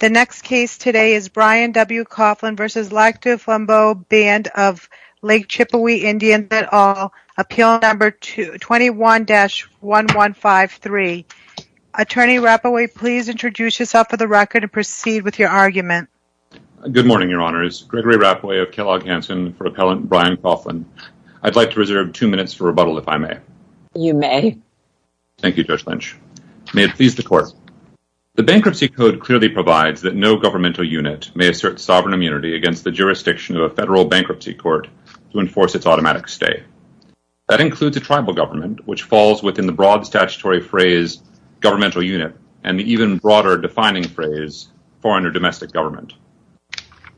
21-1153. Attorney Rapaway, please introduce yourself for the record and proceed with your argument. Good morning, Your Honors. Gregory Rapaway of Kellogg Hanson for Appellant Brian Coughlin. I'd like to reserve two minutes for rebuttal, if I may. You may. Thank you, Judge Lynch. May it please the Court. The Bankruptcy Code clearly provides for the use of the word may assert sovereign immunity against the jurisdiction of a federal bankruptcy court to enforce its automatic stay. That includes a tribal government, which falls within the broad statutory phrase governmental unit and the even broader defining phrase foreign or domestic government.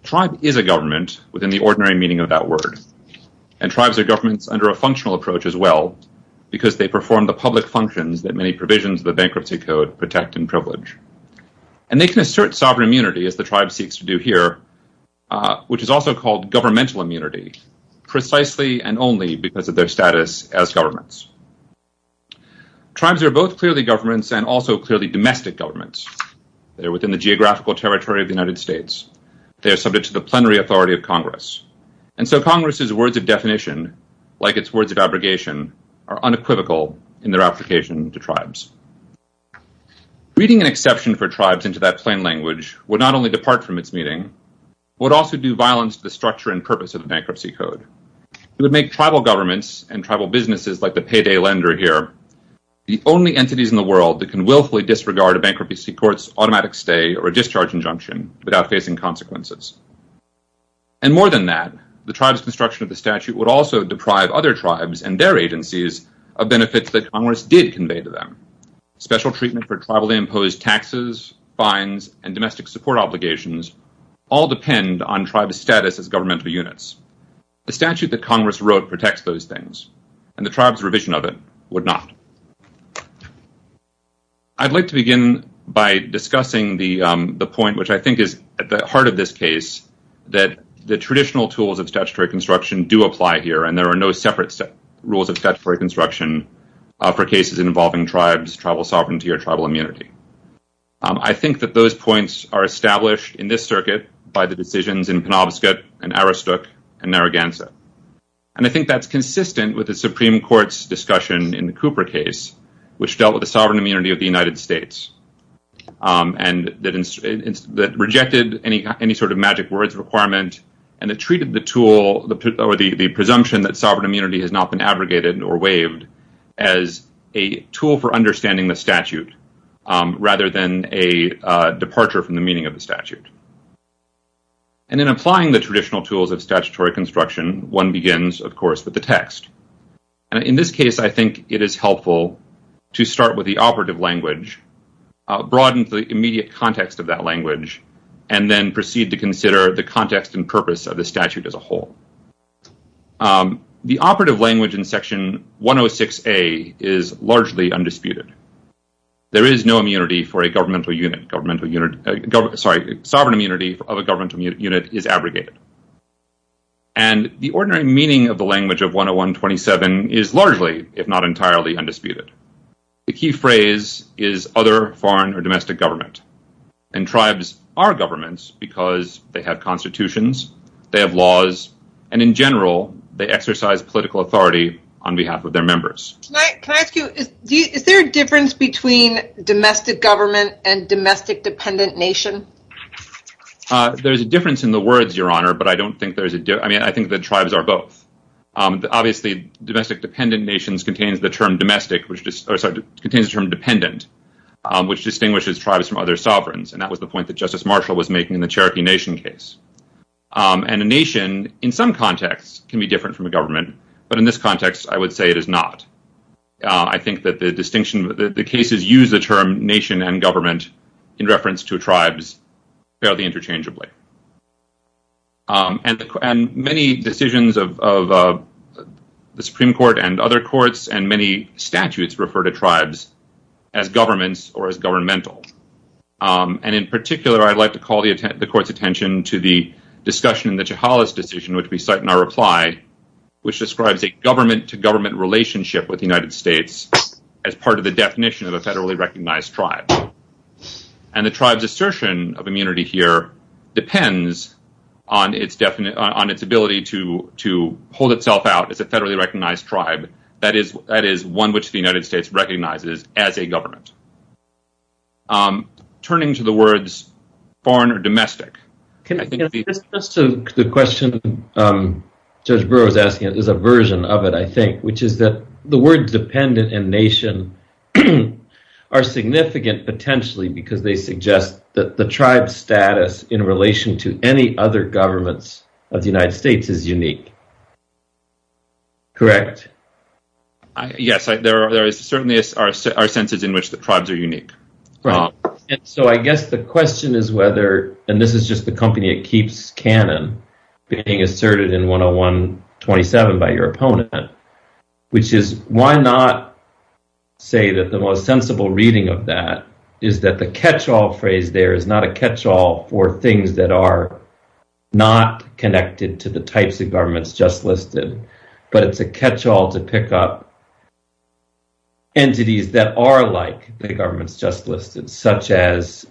Tribe is a government within the ordinary meaning of that word, and tribes are governments under a functional approach as well because they perform the public functions that many provisions of the Bankruptcy Code protect and privilege. And they can assert sovereign immunity as the tribe seeks to do here, which is also called governmental immunity precisely and only because of their status as governments. Tribes are both clearly governments and also clearly domestic governments. They're within the geographical territory of the United States. They are subject to the plenary authority of Congress. And so Congress's words of definition, like its words of abrogation, are unequivocal in their application to tribes. Reading an exception for tribes into that plain language would not only depart from its meaning, it would also do violence to the structure and purpose of the Bankruptcy Code. It would make tribal governments and tribal businesses like the payday lender here the only entities in the world that can willfully disregard a bankruptcy court's automatic stay or a discharge injunction without facing consequences. And more than that, the tribe's construction of the statute would also deprive other tribes and their agencies of benefits that Congress did convey to them. Special treatment for tribally imposed taxes, fines, and domestic support obligations all depend on tribes' status as governmental units. The statute that Congress wrote protects those things, and the tribe's revision of it would not. I'd like to begin by discussing the point, which I think is at the heart of this case, that the traditional tools of statutory construction do apply here, and there are no separate rules of statutory construction for cases involving tribes, tribal sovereignty, or tribal immunity. I think that those points are established in this circuit by the decisions in Penobscot and Aristok and Narragansett. And I think that's consistent with the Supreme Court's discussion in the Cooper case, which dealt with the sovereign immunity of the United States, and that rejected any sort of magic words requirement, and it treated the tool or the presumption that sovereign immunity has not been abrogated or waived as a tool for understanding the statute, rather than a departure from the meaning of the statute. And in applying the traditional tools of statutory construction, one begins, of course, with the text. And in this case, I think it is helpful to start with the operative language, broaden the immediate context of that language, and then proceed to consider the context and purpose of the statute as a whole. The operative language in Section 106A is largely undisputed. There is no immunity for a governmental unit. Sovereign immunity of a governmental unit is abrogated. And the ordinary meaning of the language of 10127 is largely, if not entirely, undisputed. The key phrase is other foreign or domestic government. And tribes are governments because they have constitutions, they have laws, and in general, they exercise political authority on behalf of their members. Can I ask you, is there a difference between domestic government and domestic dependent nation? There is a difference in the words, Your Honor, but I think that tribes are both. Obviously, domestic dependent nations contains the term dependent, which distinguishes tribes from other sovereigns. And that was the point that Justice Marshall was making in the Cherokee Nation case. And a nation, in some contexts, can be different from a government. But in this context, I would say it is not. I think that the distinction, the cases use the term nation and government in reference to tribes fairly interchangeably. And many decisions of the Supreme Court and other courts and many statutes refer to tribes as governments or as governmental. And in particular, I'd like to call the court's attention to the discussion in the Chahalas decision, which we cite in our reply, which describes a government-to-government relationship with the United States as part of the definition of a federally recognized tribe. And the tribe's assertion of immunity here depends on its ability to hold itself out as a federally recognized tribe. That is one which the United States recognizes as a government. Turning to the words foreign or domestic. Just to the question Judge Brewer was asking, there's a version of it, I think, which is that the words dependent and nation are significant, potentially, because they suggest that the tribe status in relation to any other governments of the United States is unique. Correct? Yes, there certainly are senses in which the tribes are unique. Right. And so I guess the question is whether, and this is just the company that keeps canon, being asserted in 101-27 by your opponent, which is why not say that the most sensible reading of that is that the catch-all phrase there is not a catch-all for things that are not connected to the types of governments just listed, but it's a catch-all to pick up entities that are like the governments just listed, such as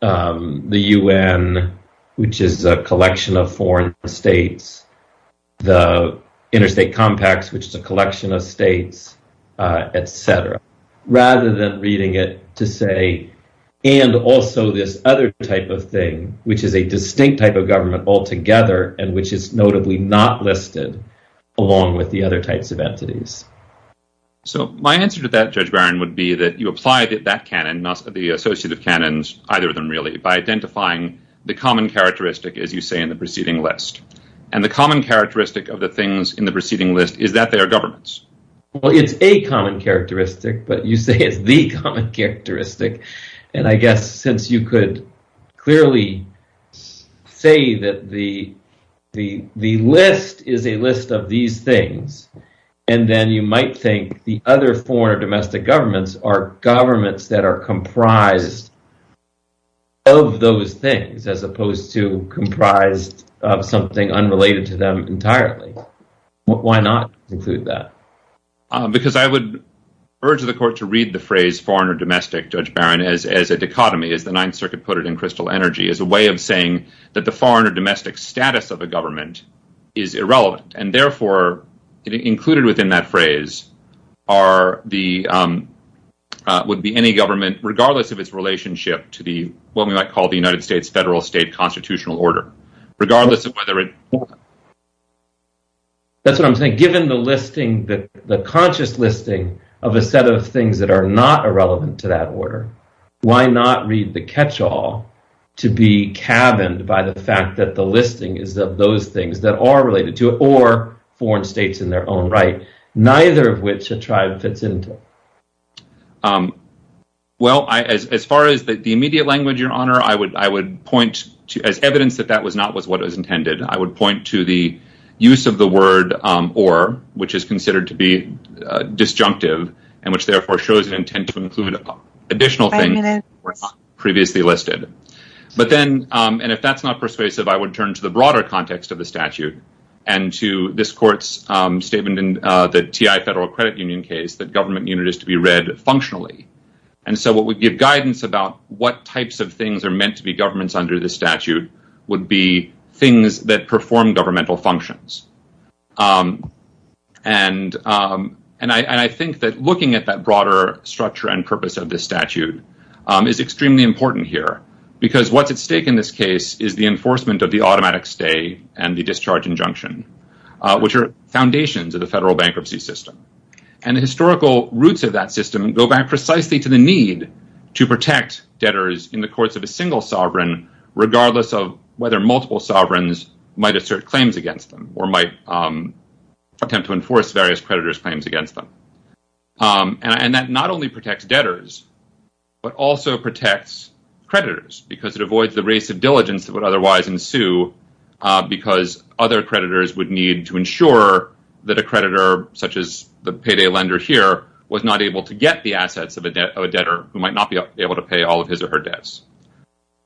the UN, which is a collection of foreign states, the interstate compacts, which is a collection of states, etc. Rather than reading it to say, and also this other type of thing, which is a distinct type of government altogether and which is notably not listed along with the other types of entities. So my answer to that, Judge Barron, would be that you apply that canon, the associative canons, either of them really, by identifying the common characteristic, as you say, in the preceding list. And the common characteristic of the things in the preceding list is that they are governments. Well, it's a common characteristic, but you say it's the common characteristic. And I guess since you could clearly say that the list is a list of these things, and then you might think the other foreign or domestic governments are governments that are comprised of those things, as opposed to comprised of something unrelated to them entirely. Why not include that? Because I would urge the court to read the phrase foreign or domestic, Judge Barron, as a dichotomy, as the Ninth Circuit put it in Crystal Energy, as a way of saying that the foreign or domestic status of a government is irrelevant. And therefore, included within that phrase would be any government, regardless of its relationship to what we might call the United States federal state constitutional order. That's what I'm saying. Given the listing, the conscious listing of a set of things that are not irrelevant to that order, why not read the catch-all to be cabined by the fact that the listing is of those things that are related to it, or foreign states in their own right, neither of which a tribe fits into? Well, as far as the immediate language, Your Honor, I would point to, as evidence that that was not what was intended, I would point to the use of the word or, which is considered to be disjunctive, and which therefore shows an intent to include additional things that were not previously listed. But then, and if that's not persuasive, I would turn to the broader context of the statute, and to this court's statement in the T.I. Federal Credit Union case that government needed to be read functionally. And so what would give guidance about what types of things are meant to be governments under the statute would be things that perform governmental functions. And I think that looking at that broader structure and purpose of the statute is extremely important here, because what's at stake in this case is the enforcement of the automatic stay and the discharge injunction, which are foundations of the federal bankruptcy system. And the historical roots of that system go back precisely to the need to protect debtors in the courts of a single sovereign, regardless of whether multiple sovereigns might assert claims against them or might attempt to enforce various creditors' claims against them. And that not only protects debtors, but also protects creditors, because it avoids the race of diligence that would otherwise ensue, because other creditors would need to ensure that a creditor, such as the payday lender here, was not able to get the assets of a debtor who might not be able to pay all of his or her debts.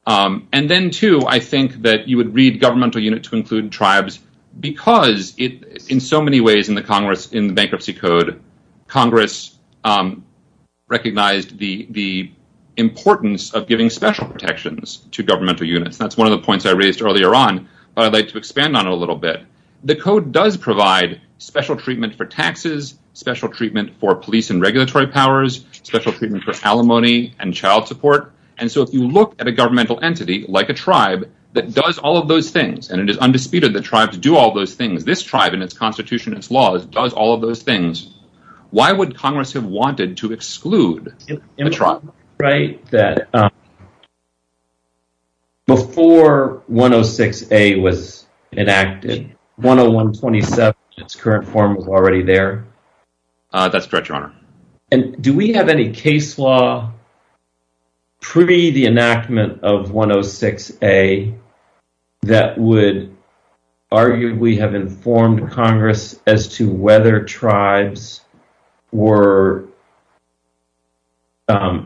And then, too, I think that you would read governmental unit to include tribes, because in so many ways in the bankruptcy code, Congress recognized the importance of giving special protections to governmental units. That's one of the points I raised earlier on, but I'd like to expand on it a little bit. The code does provide special treatment for taxes, special treatment for police and regulatory powers, special treatment for alimony and child support. And so if you look at a governmental entity, like a tribe, that does all of those things, and it is undisputed that tribes do all those things, this tribe in its constitution, its laws, does all of those things, why would Congress have wanted to exclude the tribe? Before 106A was enacted, 10127 in its current form was already there. That's correct, Your Honor. And do we have any case law pre the enactment of 106A that would argue we have informed Congress as to whether tribes were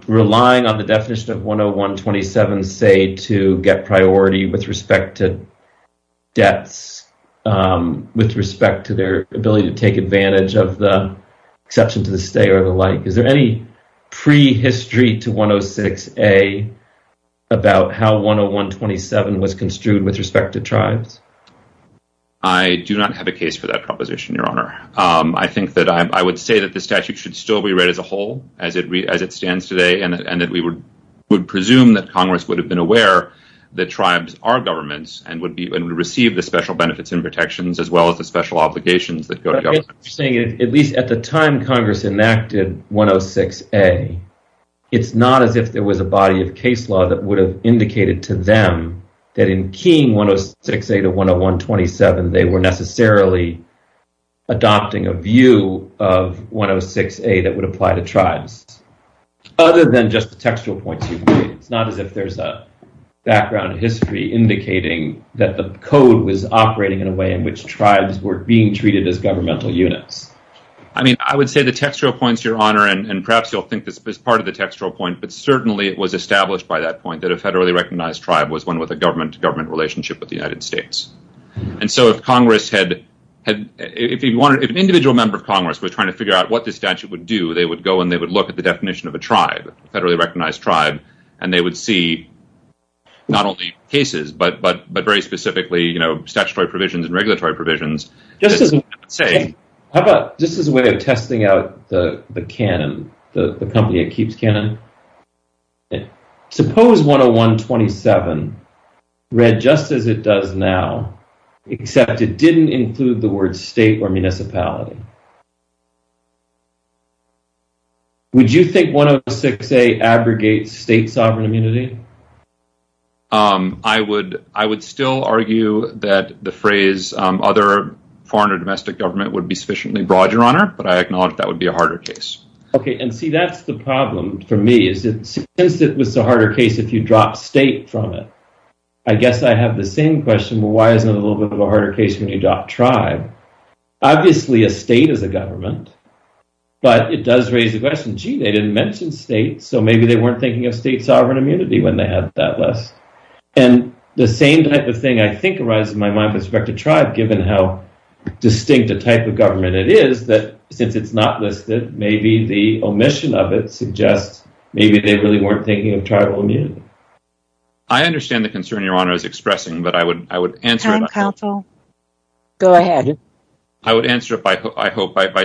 relying on the definition of 10127, and say to get priority with respect to debts, with respect to their ability to take advantage of the exception to the stay or the like? Is there any prehistory to 106A about how 10127 was construed with respect to tribes? I do not have a case for that proposition, Your Honor. I think that I would say that the statute should still be read as a whole as it stands today, and that we would presume that Congress would have been aware that tribes are governments, and would receive the special benefits and protections as well as the special obligations that go to government. At least at the time Congress enacted 106A, it's not as if there was a body of case law that would have indicated to them that in keying 106A to 10127, they were necessarily adopting a view of 106A that would apply to tribes. Other than just the textual points you've made, it's not as if there's a background history indicating that the code was operating in a way in which tribes were being treated as governmental units. I would say the textual points, Your Honor, and perhaps you'll think this is part of the textual point, but certainly it was established by that point that a federally recognized tribe was one with a government-to-government relationship with the United States. If an individual member of Congress was trying to figure out what this statute would do, they would go and they would look at the definition of a tribe, a federally recognized tribe, and they would see not only cases, but very specifically statutory provisions and regulatory provisions. Just as a way of testing out the canon, the company that keeps canon, suppose 10127 read just as it does now, except it didn't include the word state or municipality. Would you think 106A abrogates state sovereign immunity? I would still argue that the phrase other foreign or domestic government would be sufficiently broad, Your Honor, but I acknowledge that would be a harder case. Okay, and see, that's the problem for me. Since it was the harder case, if you drop state from it, I guess I have the same question. Well, why is it a little bit of a harder case when you drop tribe? Obviously, a state is a government, but it does raise the question. Gee, they didn't mention state, so maybe they weren't thinking of state sovereign immunity. And the same type of thing, I think, arises in my mind with respect to tribe, given how distinct a type of government it is, that since it's not listed, maybe the omission of it suggests maybe they really weren't thinking of tribal immunity. I understand the concern Your Honor is expressing, but I would answer it by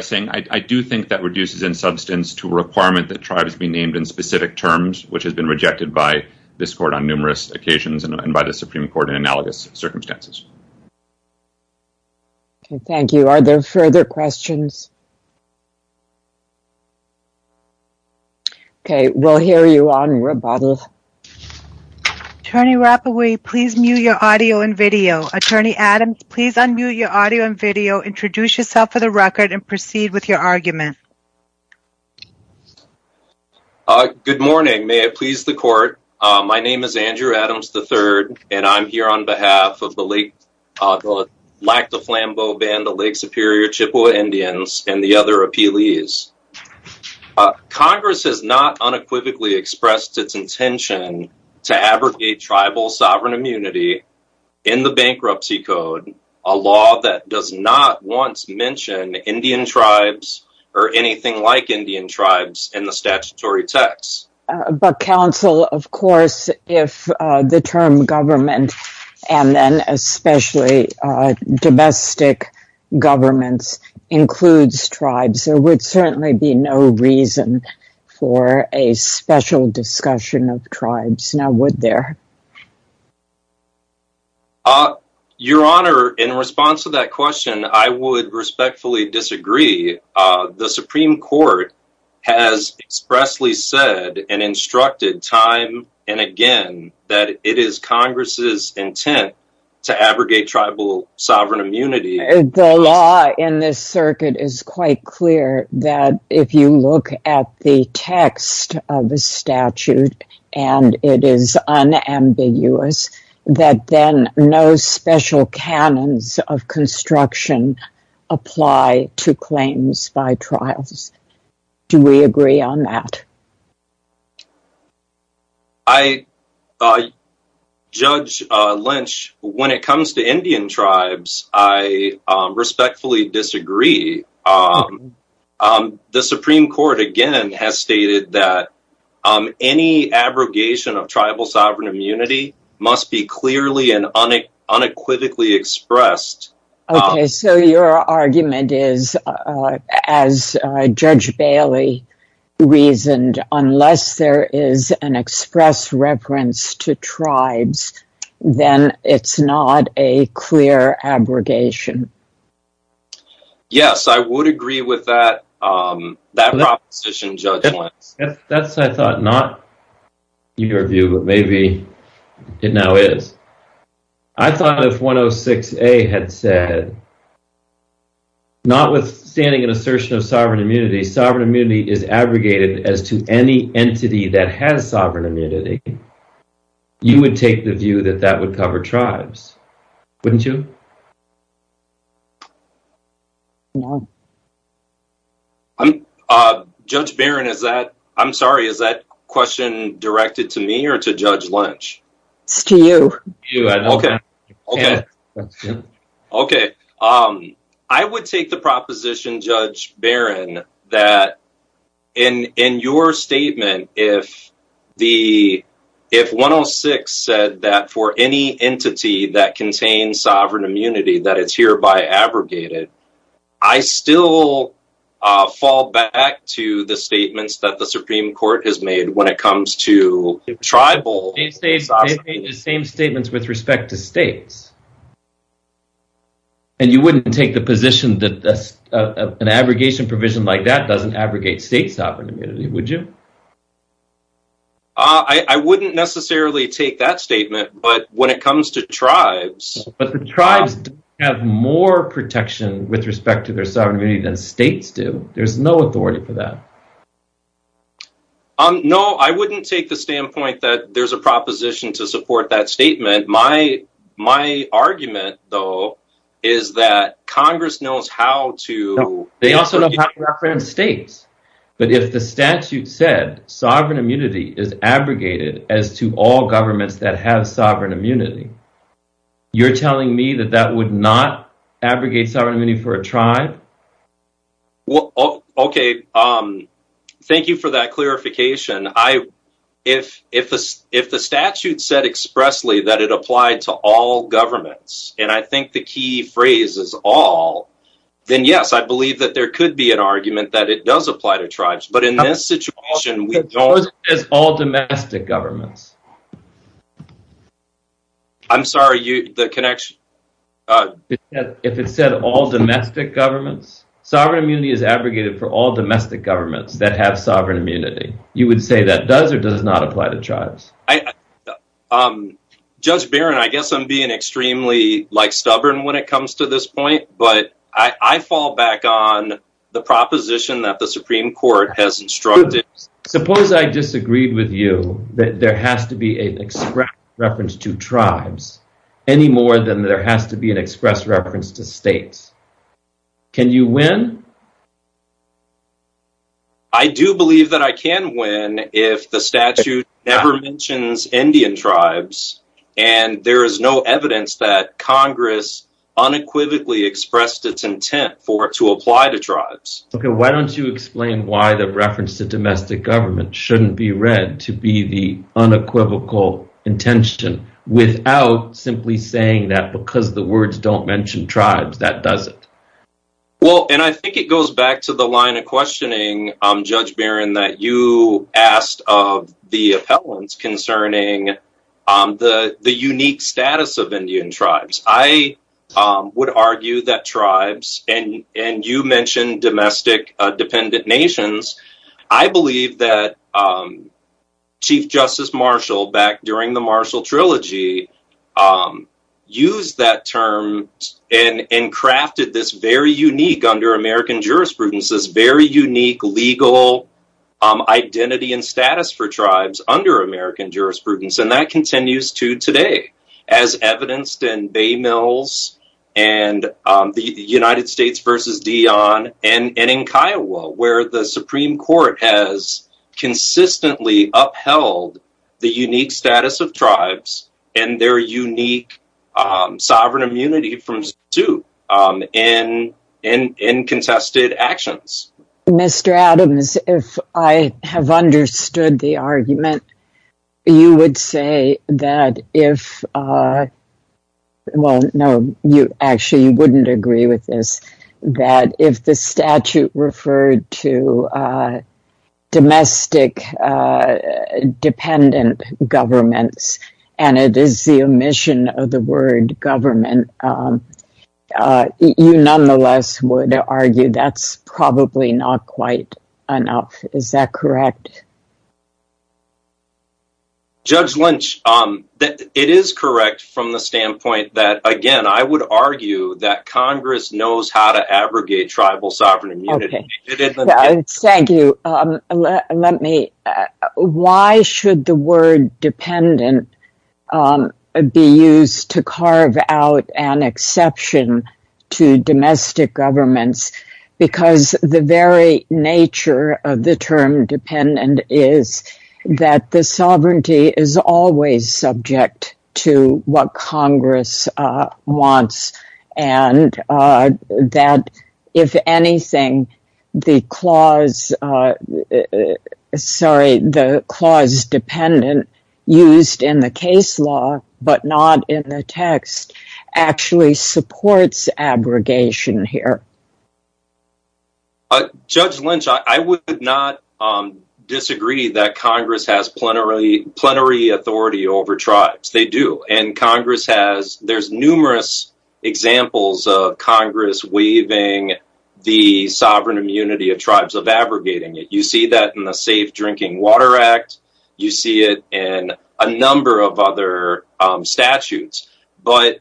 saying, I do think that reduces in substance to a requirement that tribes be named in specific terms, which has been rejected by this court on numerous occasions and by the Supreme Court in analogous circumstances. Okay, thank you. Are there further questions? Okay, we'll hear you on rebuttal. Attorney Rapoport, please mute your audio and video. Attorney Adams, please unmute your audio and video, introduce yourself for the record, and proceed with your argument. Good morning. May it please the court. My name is Andrew Adams III, and I'm here on behalf of the Lake, the Lac du Flambeau Band of Lake Superior Chippewa Indians and the other appellees. Congress has not unequivocally expressed its intention to abrogate tribal sovereign immunity in the bankruptcy code, a law that does not once mention Indian tribes or anything like Indian tribes in the statutory text. But counsel, of course, if the term government and then especially domestic governments includes tribes, there would certainly be no reason for a special discussion of tribes, now would there? Your Honor, in response to that question, I would respectfully disagree. The Supreme Court has expressly said and instructed time and again that it is Congress's intent to abrogate tribal sovereign immunity. The law in this circuit is quite clear that if you look at the text of the statute and it is unambiguous, that then no special canons of construction apply to claims by trials. Do we agree on that? Judge Lynch, when it comes to Indian tribes, I respectfully disagree. The Supreme Court again has stated that any abrogation of tribal sovereign immunity must be clearly and unequivocally expressed. Okay, so your argument is, as Judge Bailey reasoned, unless there is an express reference to tribes, then it's not a clear abrogation. Yes, I would agree with that proposition, Judge Lynch. That's, I thought, not your view, but maybe it now is. I thought if 106A had said, notwithstanding an assertion of sovereign immunity, sovereign immunity is abrogated as to any entity that has sovereign immunity, you would take the view that that would cover tribes, wouldn't you? Judge Barron, is that, I'm sorry, is that question directed to me or to Judge Lynch? It's to you. Okay, okay. I would take the proposition, Judge Barron, that in your statement, if 106A said that for any entity that contains sovereign immunity that it's hereby abrogated, I still fall back to the statements that the Supreme Court has made when it comes to tribal sovereign immunity. They've made the same statements with respect to states. And you wouldn't take the position that an abrogation provision like that doesn't abrogate state sovereign immunity, would you? I wouldn't necessarily take that statement, but when it comes to tribes... with respect to their sovereign immunity than states do, there's no authority for that. No, I wouldn't take the standpoint that there's a proposition to support that statement. My argument, though, is that Congress knows how to... They also know how to reference states. But if the statute said sovereign immunity is abrogated as to all governments that have sovereign immunity, you're telling me that that would not abrogate sovereign immunity for a tribe? Okay, thank you for that clarification. If the statute said expressly that it applied to all governments, and I think the key phrase is all, then yes, I believe that there could be an argument that it does apply to tribes. But in this situation, we don't... I'm sorry, the connection... If it said all domestic governments? Sovereign immunity is abrogated for all domestic governments that have sovereign immunity. You would say that does or does not apply to tribes? Judge Barron, I guess I'm being extremely stubborn when it comes to this point, but I fall back on the proposition that the Supreme Court has instructed. Suppose I disagreed with you that there has to be an express reference to tribes any more than there has to be an express reference to states. Can you win? I do believe that I can win if the statute never mentions Indian tribes, and there is no evidence that Congress unequivocally expressed its intent to apply to tribes. Okay, why don't you explain why the reference to domestic government shouldn't be read to be the unequivocal intention without simply saying that because the words don't mention tribes, that does it? Well, and I think it goes back to the line of questioning, Judge Barron, that you asked of the appellants concerning the unique status of Indian tribes. I would argue that tribes, and you mentioned domestic dependent nations, I believe that Chief Justice Marshall back during the Marshall Trilogy used that term and crafted this very unique under American jurisprudence, this very unique legal identity and status for tribes under American jurisprudence, and that continues to today as evidenced in Bay Mills and the United States v. Dion and in Kiowa where the Supreme Court has consistently upheld the unique status of tribes and their unique sovereign immunity from suit in contested actions. Mr. Adams, if I have understood the argument, you would say that if, well, no, actually you wouldn't agree with this, that if the statute referred to domestic dependent governments and it is the omission of the word government, you nonetheless would argue that's probably not quite enough. Is that correct? Judge Lynch, it is correct from the standpoint that, again, I would argue that Congress knows how to abrogate tribal sovereign immunity. Thank you. Why should the word dependent be used to carve out an exception to domestic governments? Because the very nature of the term dependent is that the sovereignty is always subject to what Congress wants and that, if anything, the clause dependent used in the case law but not in the text actually supports abrogation here. Judge Lynch, I would not disagree that Congress has plenary authority over tribes. They do, and Congress has, there's numerous examples of Congress waiving the sovereign immunity of tribes of abrogating it. You see that in the Safe Drinking Water Act. You see it in a number of other statutes. But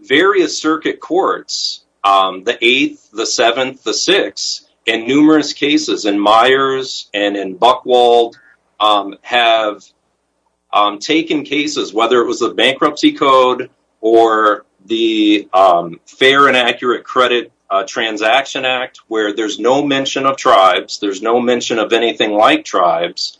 various circuit courts, the 8th, the 7th, the 6th, and numerous cases in Myers and in Buchwald have taken cases, whether it was a bankruptcy code or the Fair and Accurate Credit Transaction Act, where there's no mention of tribes, there's no mention of anything like tribes,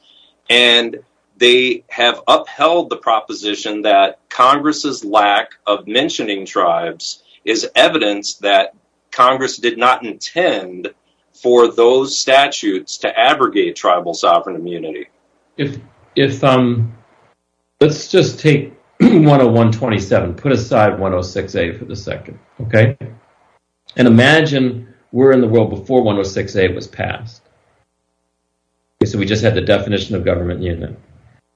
and they have upheld the proposition that Congress's lack of mentioning tribes is evidence that Congress did not intend for those statutes to abrogate tribal sovereign immunity. Let's just take 101-27, put aside 106-A for the second, okay? And imagine we're in the world before 106-A was passed. So we just had the definition of government unit.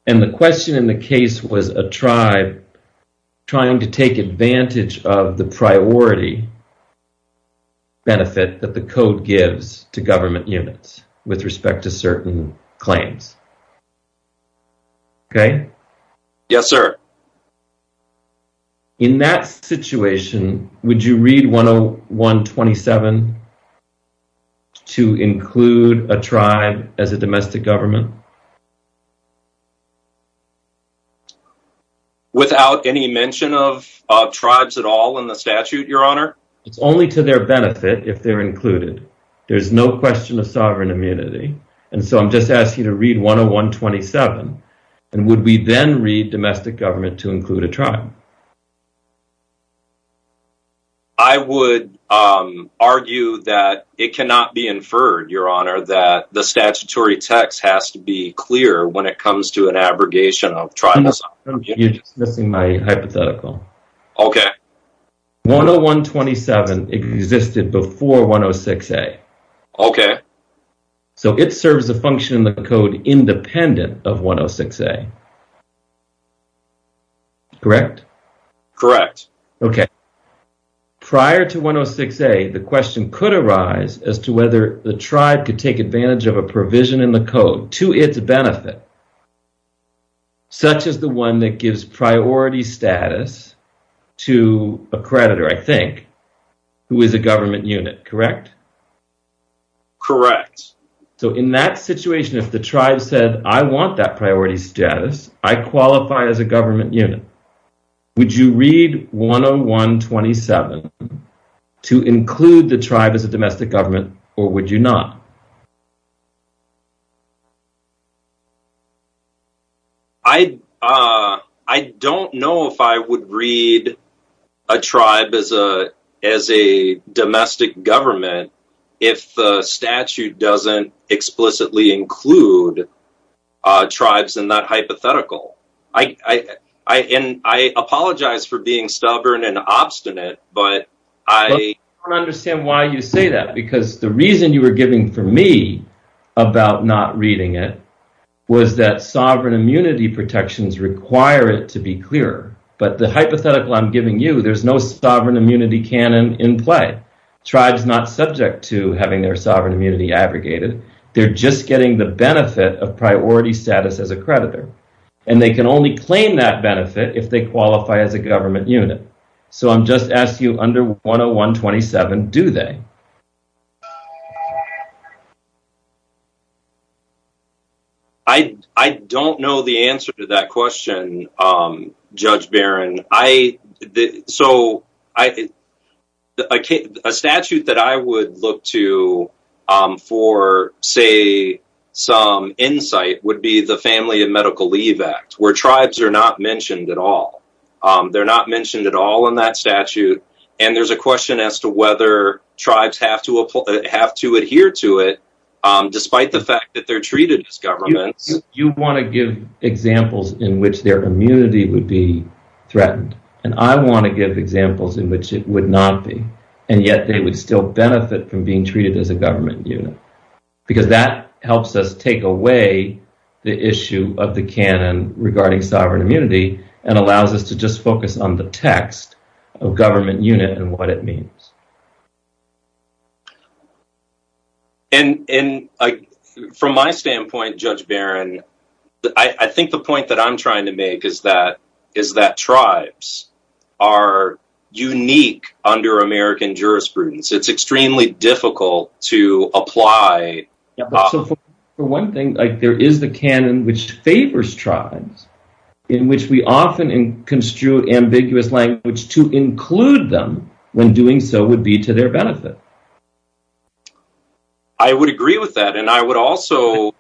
And the question in the case was a tribe trying to take advantage of the priority benefit that the code gives to government units with respect to certain claims. Okay? Yes, sir. In that situation, would you read 101-27 to include a tribe as a domestic government? Without any mention of tribes at all in the statute, Your Honor? It's only to their benefit if they're included. There's no question of sovereign immunity. And so I'm just asking you to read 101-27. And would we then read domestic government to include a tribe? I would argue that it cannot be inferred, Your Honor, that the statutory text has to be clear when it comes to an abrogation of tribes. You're just missing my hypothetical. Okay. 101-27 existed before 106-A. Okay. So it serves a function in the code independent of 106-A. Correct? Correct. Okay. Prior to 106-A, the question could arise as to whether the tribe could take advantage of a provision in the code to its benefit, such as the one that gives priority status to a creditor, I think, who is a government unit. Correct? Correct. So in that situation, if the tribe said, I want that priority status, I qualify as a government unit, would you read 101-27 to include the tribe as a domestic government, or would you not? I don't know if I would read a tribe as a domestic government if the statute doesn't explicitly include tribes in that hypothetical. And I apologize for being stubborn and obstinate, but I... about not reading it was that sovereign immunity protections require it to be clear, but the hypothetical I'm giving you, there's no sovereign immunity canon in play. Tribes are not subject to having their sovereign immunity abrogated. They're just getting the benefit of priority status as a creditor, and they can only claim that benefit if they qualify as a government unit. So I'm just asking you, under 101-27, do they? I don't know the answer to that question, Judge Barron. So a statute that I would look to for, say, some insight would be the Family and Medical Leave Act, where tribes are not mentioned at all. They're not mentioned at all in that statute, and there's a question as to whether tribes have to adhere to it, despite the fact that they're treated as governments. You want to give examples in which their immunity would be threatened, and I want to give examples in which it would not be, and yet they would still benefit from being treated as a government unit. Because that helps us take away the issue of the canon regarding sovereign immunity, and allows us to just focus on the text of government unit and what it means. And from my standpoint, Judge Barron, I think the point that I'm trying to make is that tribes are unique under American jurisprudence. It's extremely difficult to apply. For one thing, there is the canon which favors tribes, in which we often construe ambiguous language to include them when doing so would be to their benefit. I would agree with that, and I would also...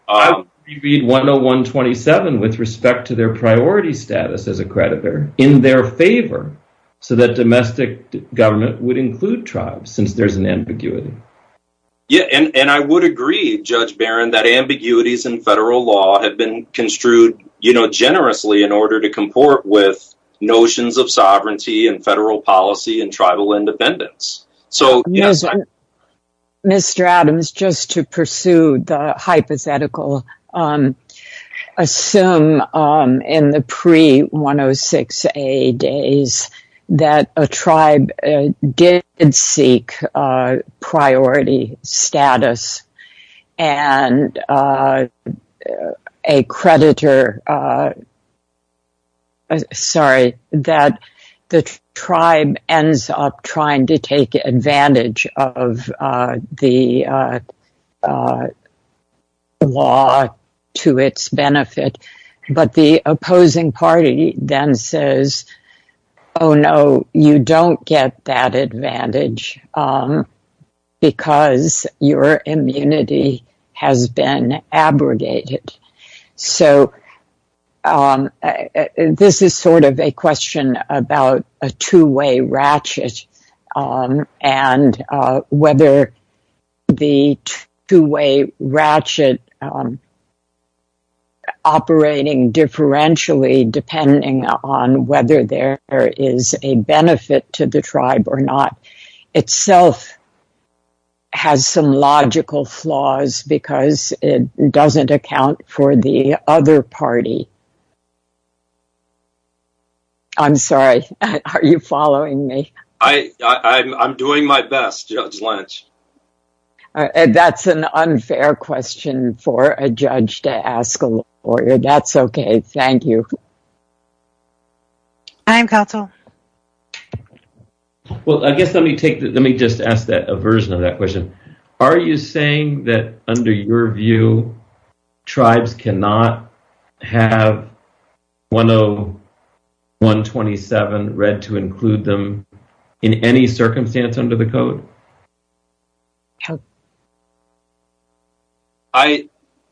So that domestic government would include tribes, since there's an ambiguity. Yeah, and I would agree, Judge Barron, that ambiguities in federal law have been construed generously in order to comport with notions of sovereignty and federal policy and tribal independence. Mr. Adams, just to pursue the hypothetical, assume in the pre-106A days that a tribe did seek priority status, and a creditor, sorry, that the tribe ends up trying to take advantage of the law to its benefit. But the opposing party then says, oh no, you don't get that advantage because your immunity has been abrogated. So this is sort of a question about a two-way ratchet, and whether the two-way ratchet operating differentially, depending on whether there is a benefit to the tribe or not, itself has some logical flaws because it doesn't account for the other party. I'm sorry, are you following me? I'm doing my best, Judge Lynch. That's an unfair question for a judge to ask a lawyer. That's okay, thank you. I am counsel. Well, I guess let me just ask a version of that question. Are you saying that under your view, tribes cannot have 10127 read to include them in any circumstance under the code? How?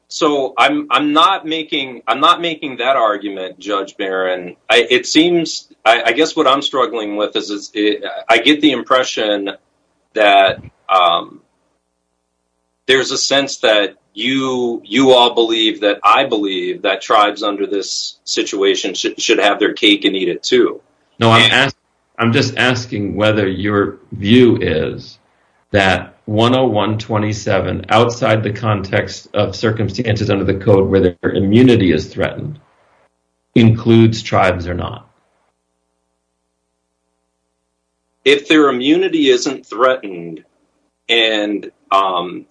So I'm not making that argument, Judge Barron. It seems, I guess what I'm struggling with is I get the impression that there's a sense that you all believe that I believe that tribes under this situation should have their cake and eat it too. No, I'm just asking whether your view is that 10127, outside the context of circumstances under the code where their immunity is threatened, includes tribes or not. If their immunity isn't threatened and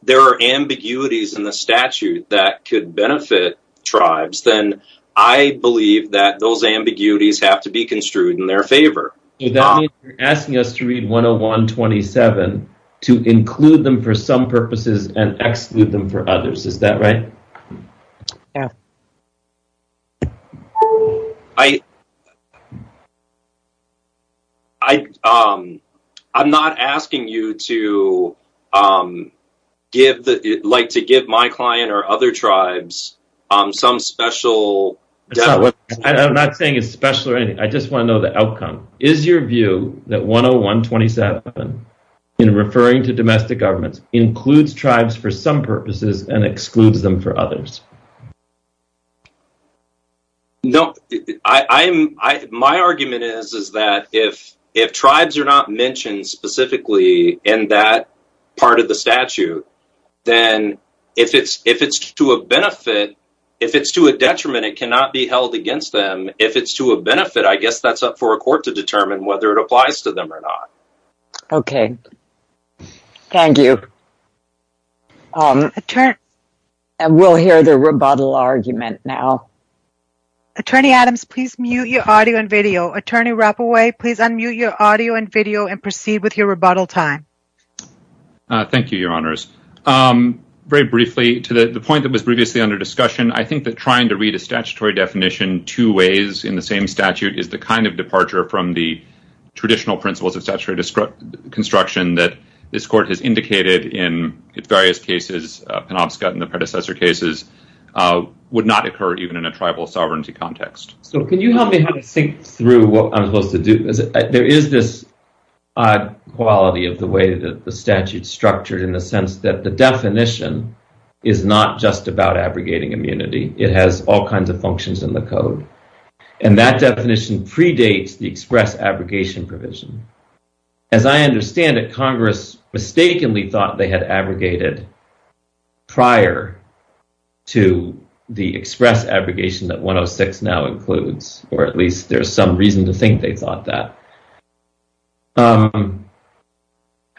there are ambiguities in the statute that could benefit tribes, then I believe that those ambiguities have to be construed in their favor. So that means you're asking us to read 10127 to include them for some purposes and exclude them for others, is that right? Yeah. I'm not asking you to give my client or other tribes some special... I'm not saying it's special or anything. I just want to know the outcome. Is your view that 10127, in referring to domestic governments, includes tribes for some purposes and excludes them for others? No. My argument is that if tribes are not mentioned specifically in that part of the statute, then if it's to a detriment, it cannot be held against them. If it's to a benefit, I guess that's up for a court to determine whether it applies to them or not. Okay. Thank you. We'll hear the rebuttal argument now. Attorney Adams, please mute your audio and video. Attorney Rapaway, please unmute your audio and video and proceed with your rebuttal time. Thank you, Your Honors. Very briefly, to the point that was previously under discussion, I think that trying to read a statutory definition two ways in the same statute is the kind of departure from the traditional principles of statutory construction that this court has indicated in its various cases, Penobscot and the predecessor cases, would not occur even in a tribal sovereignty context. So can you help me how to think through what I'm supposed to do? There is this odd quality of the way that the statute's structured in the sense that the definition is not just about abrogating immunity. It has all kinds of functions in the code. And that definition predates the express abrogation provision. As I understand it, Congress mistakenly thought they had abrogated prior to the express abrogation that 106 now includes, or at least there's some reason to think they thought that.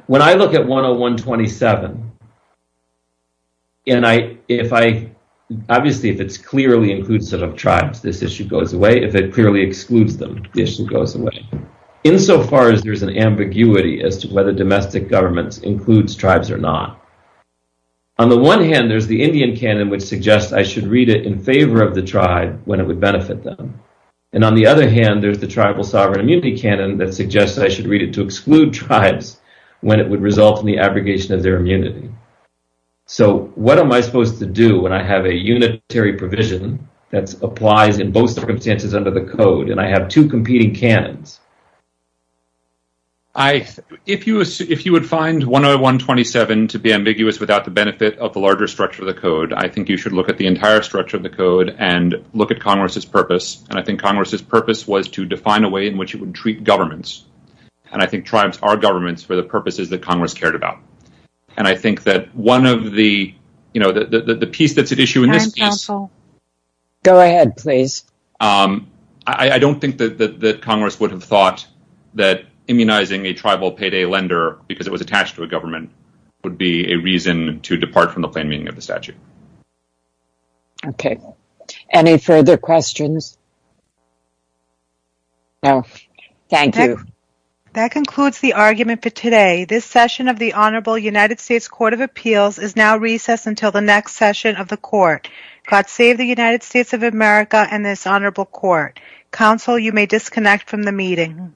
When I look at 10127, and obviously if it clearly includes tribes, this issue goes away. If it clearly excludes them, the issue goes away, insofar as there's an ambiguity as to whether domestic government includes tribes or not. On the one hand, there's the Indian canon, which suggests I should read it in favor of the tribe when it would benefit them. And on the other hand, there's the tribal sovereign immunity canon that suggests I should read it to exclude tribes when it would result in the abrogation of their immunity. So what am I supposed to do when I have a unitary provision that applies in both circumstances under the code and I have two competing canons? If you would find 10127 to be ambiguous without the benefit of the larger structure of the code, I think you should look at the entire structure of the code and look at Congress's purpose. And I think Congress's purpose was to define a way in which it would treat governments. And I think tribes are governments for the purposes that Congress cared about. And I think that one of the, you know, the piece that's at issue in this case... Go ahead, please. I don't think that Congress would have thought that immunizing a tribal payday lender because it was attached to a government would be a reason to depart from the plain meaning of the statute. Okay. Any further questions? No. Thank you. That concludes the argument for today. This session of the Honorable United States Court of Appeals is now recessed until the next session of the court. God save the United States of America and this honorable court. Counsel, you may disconnect from the meeting.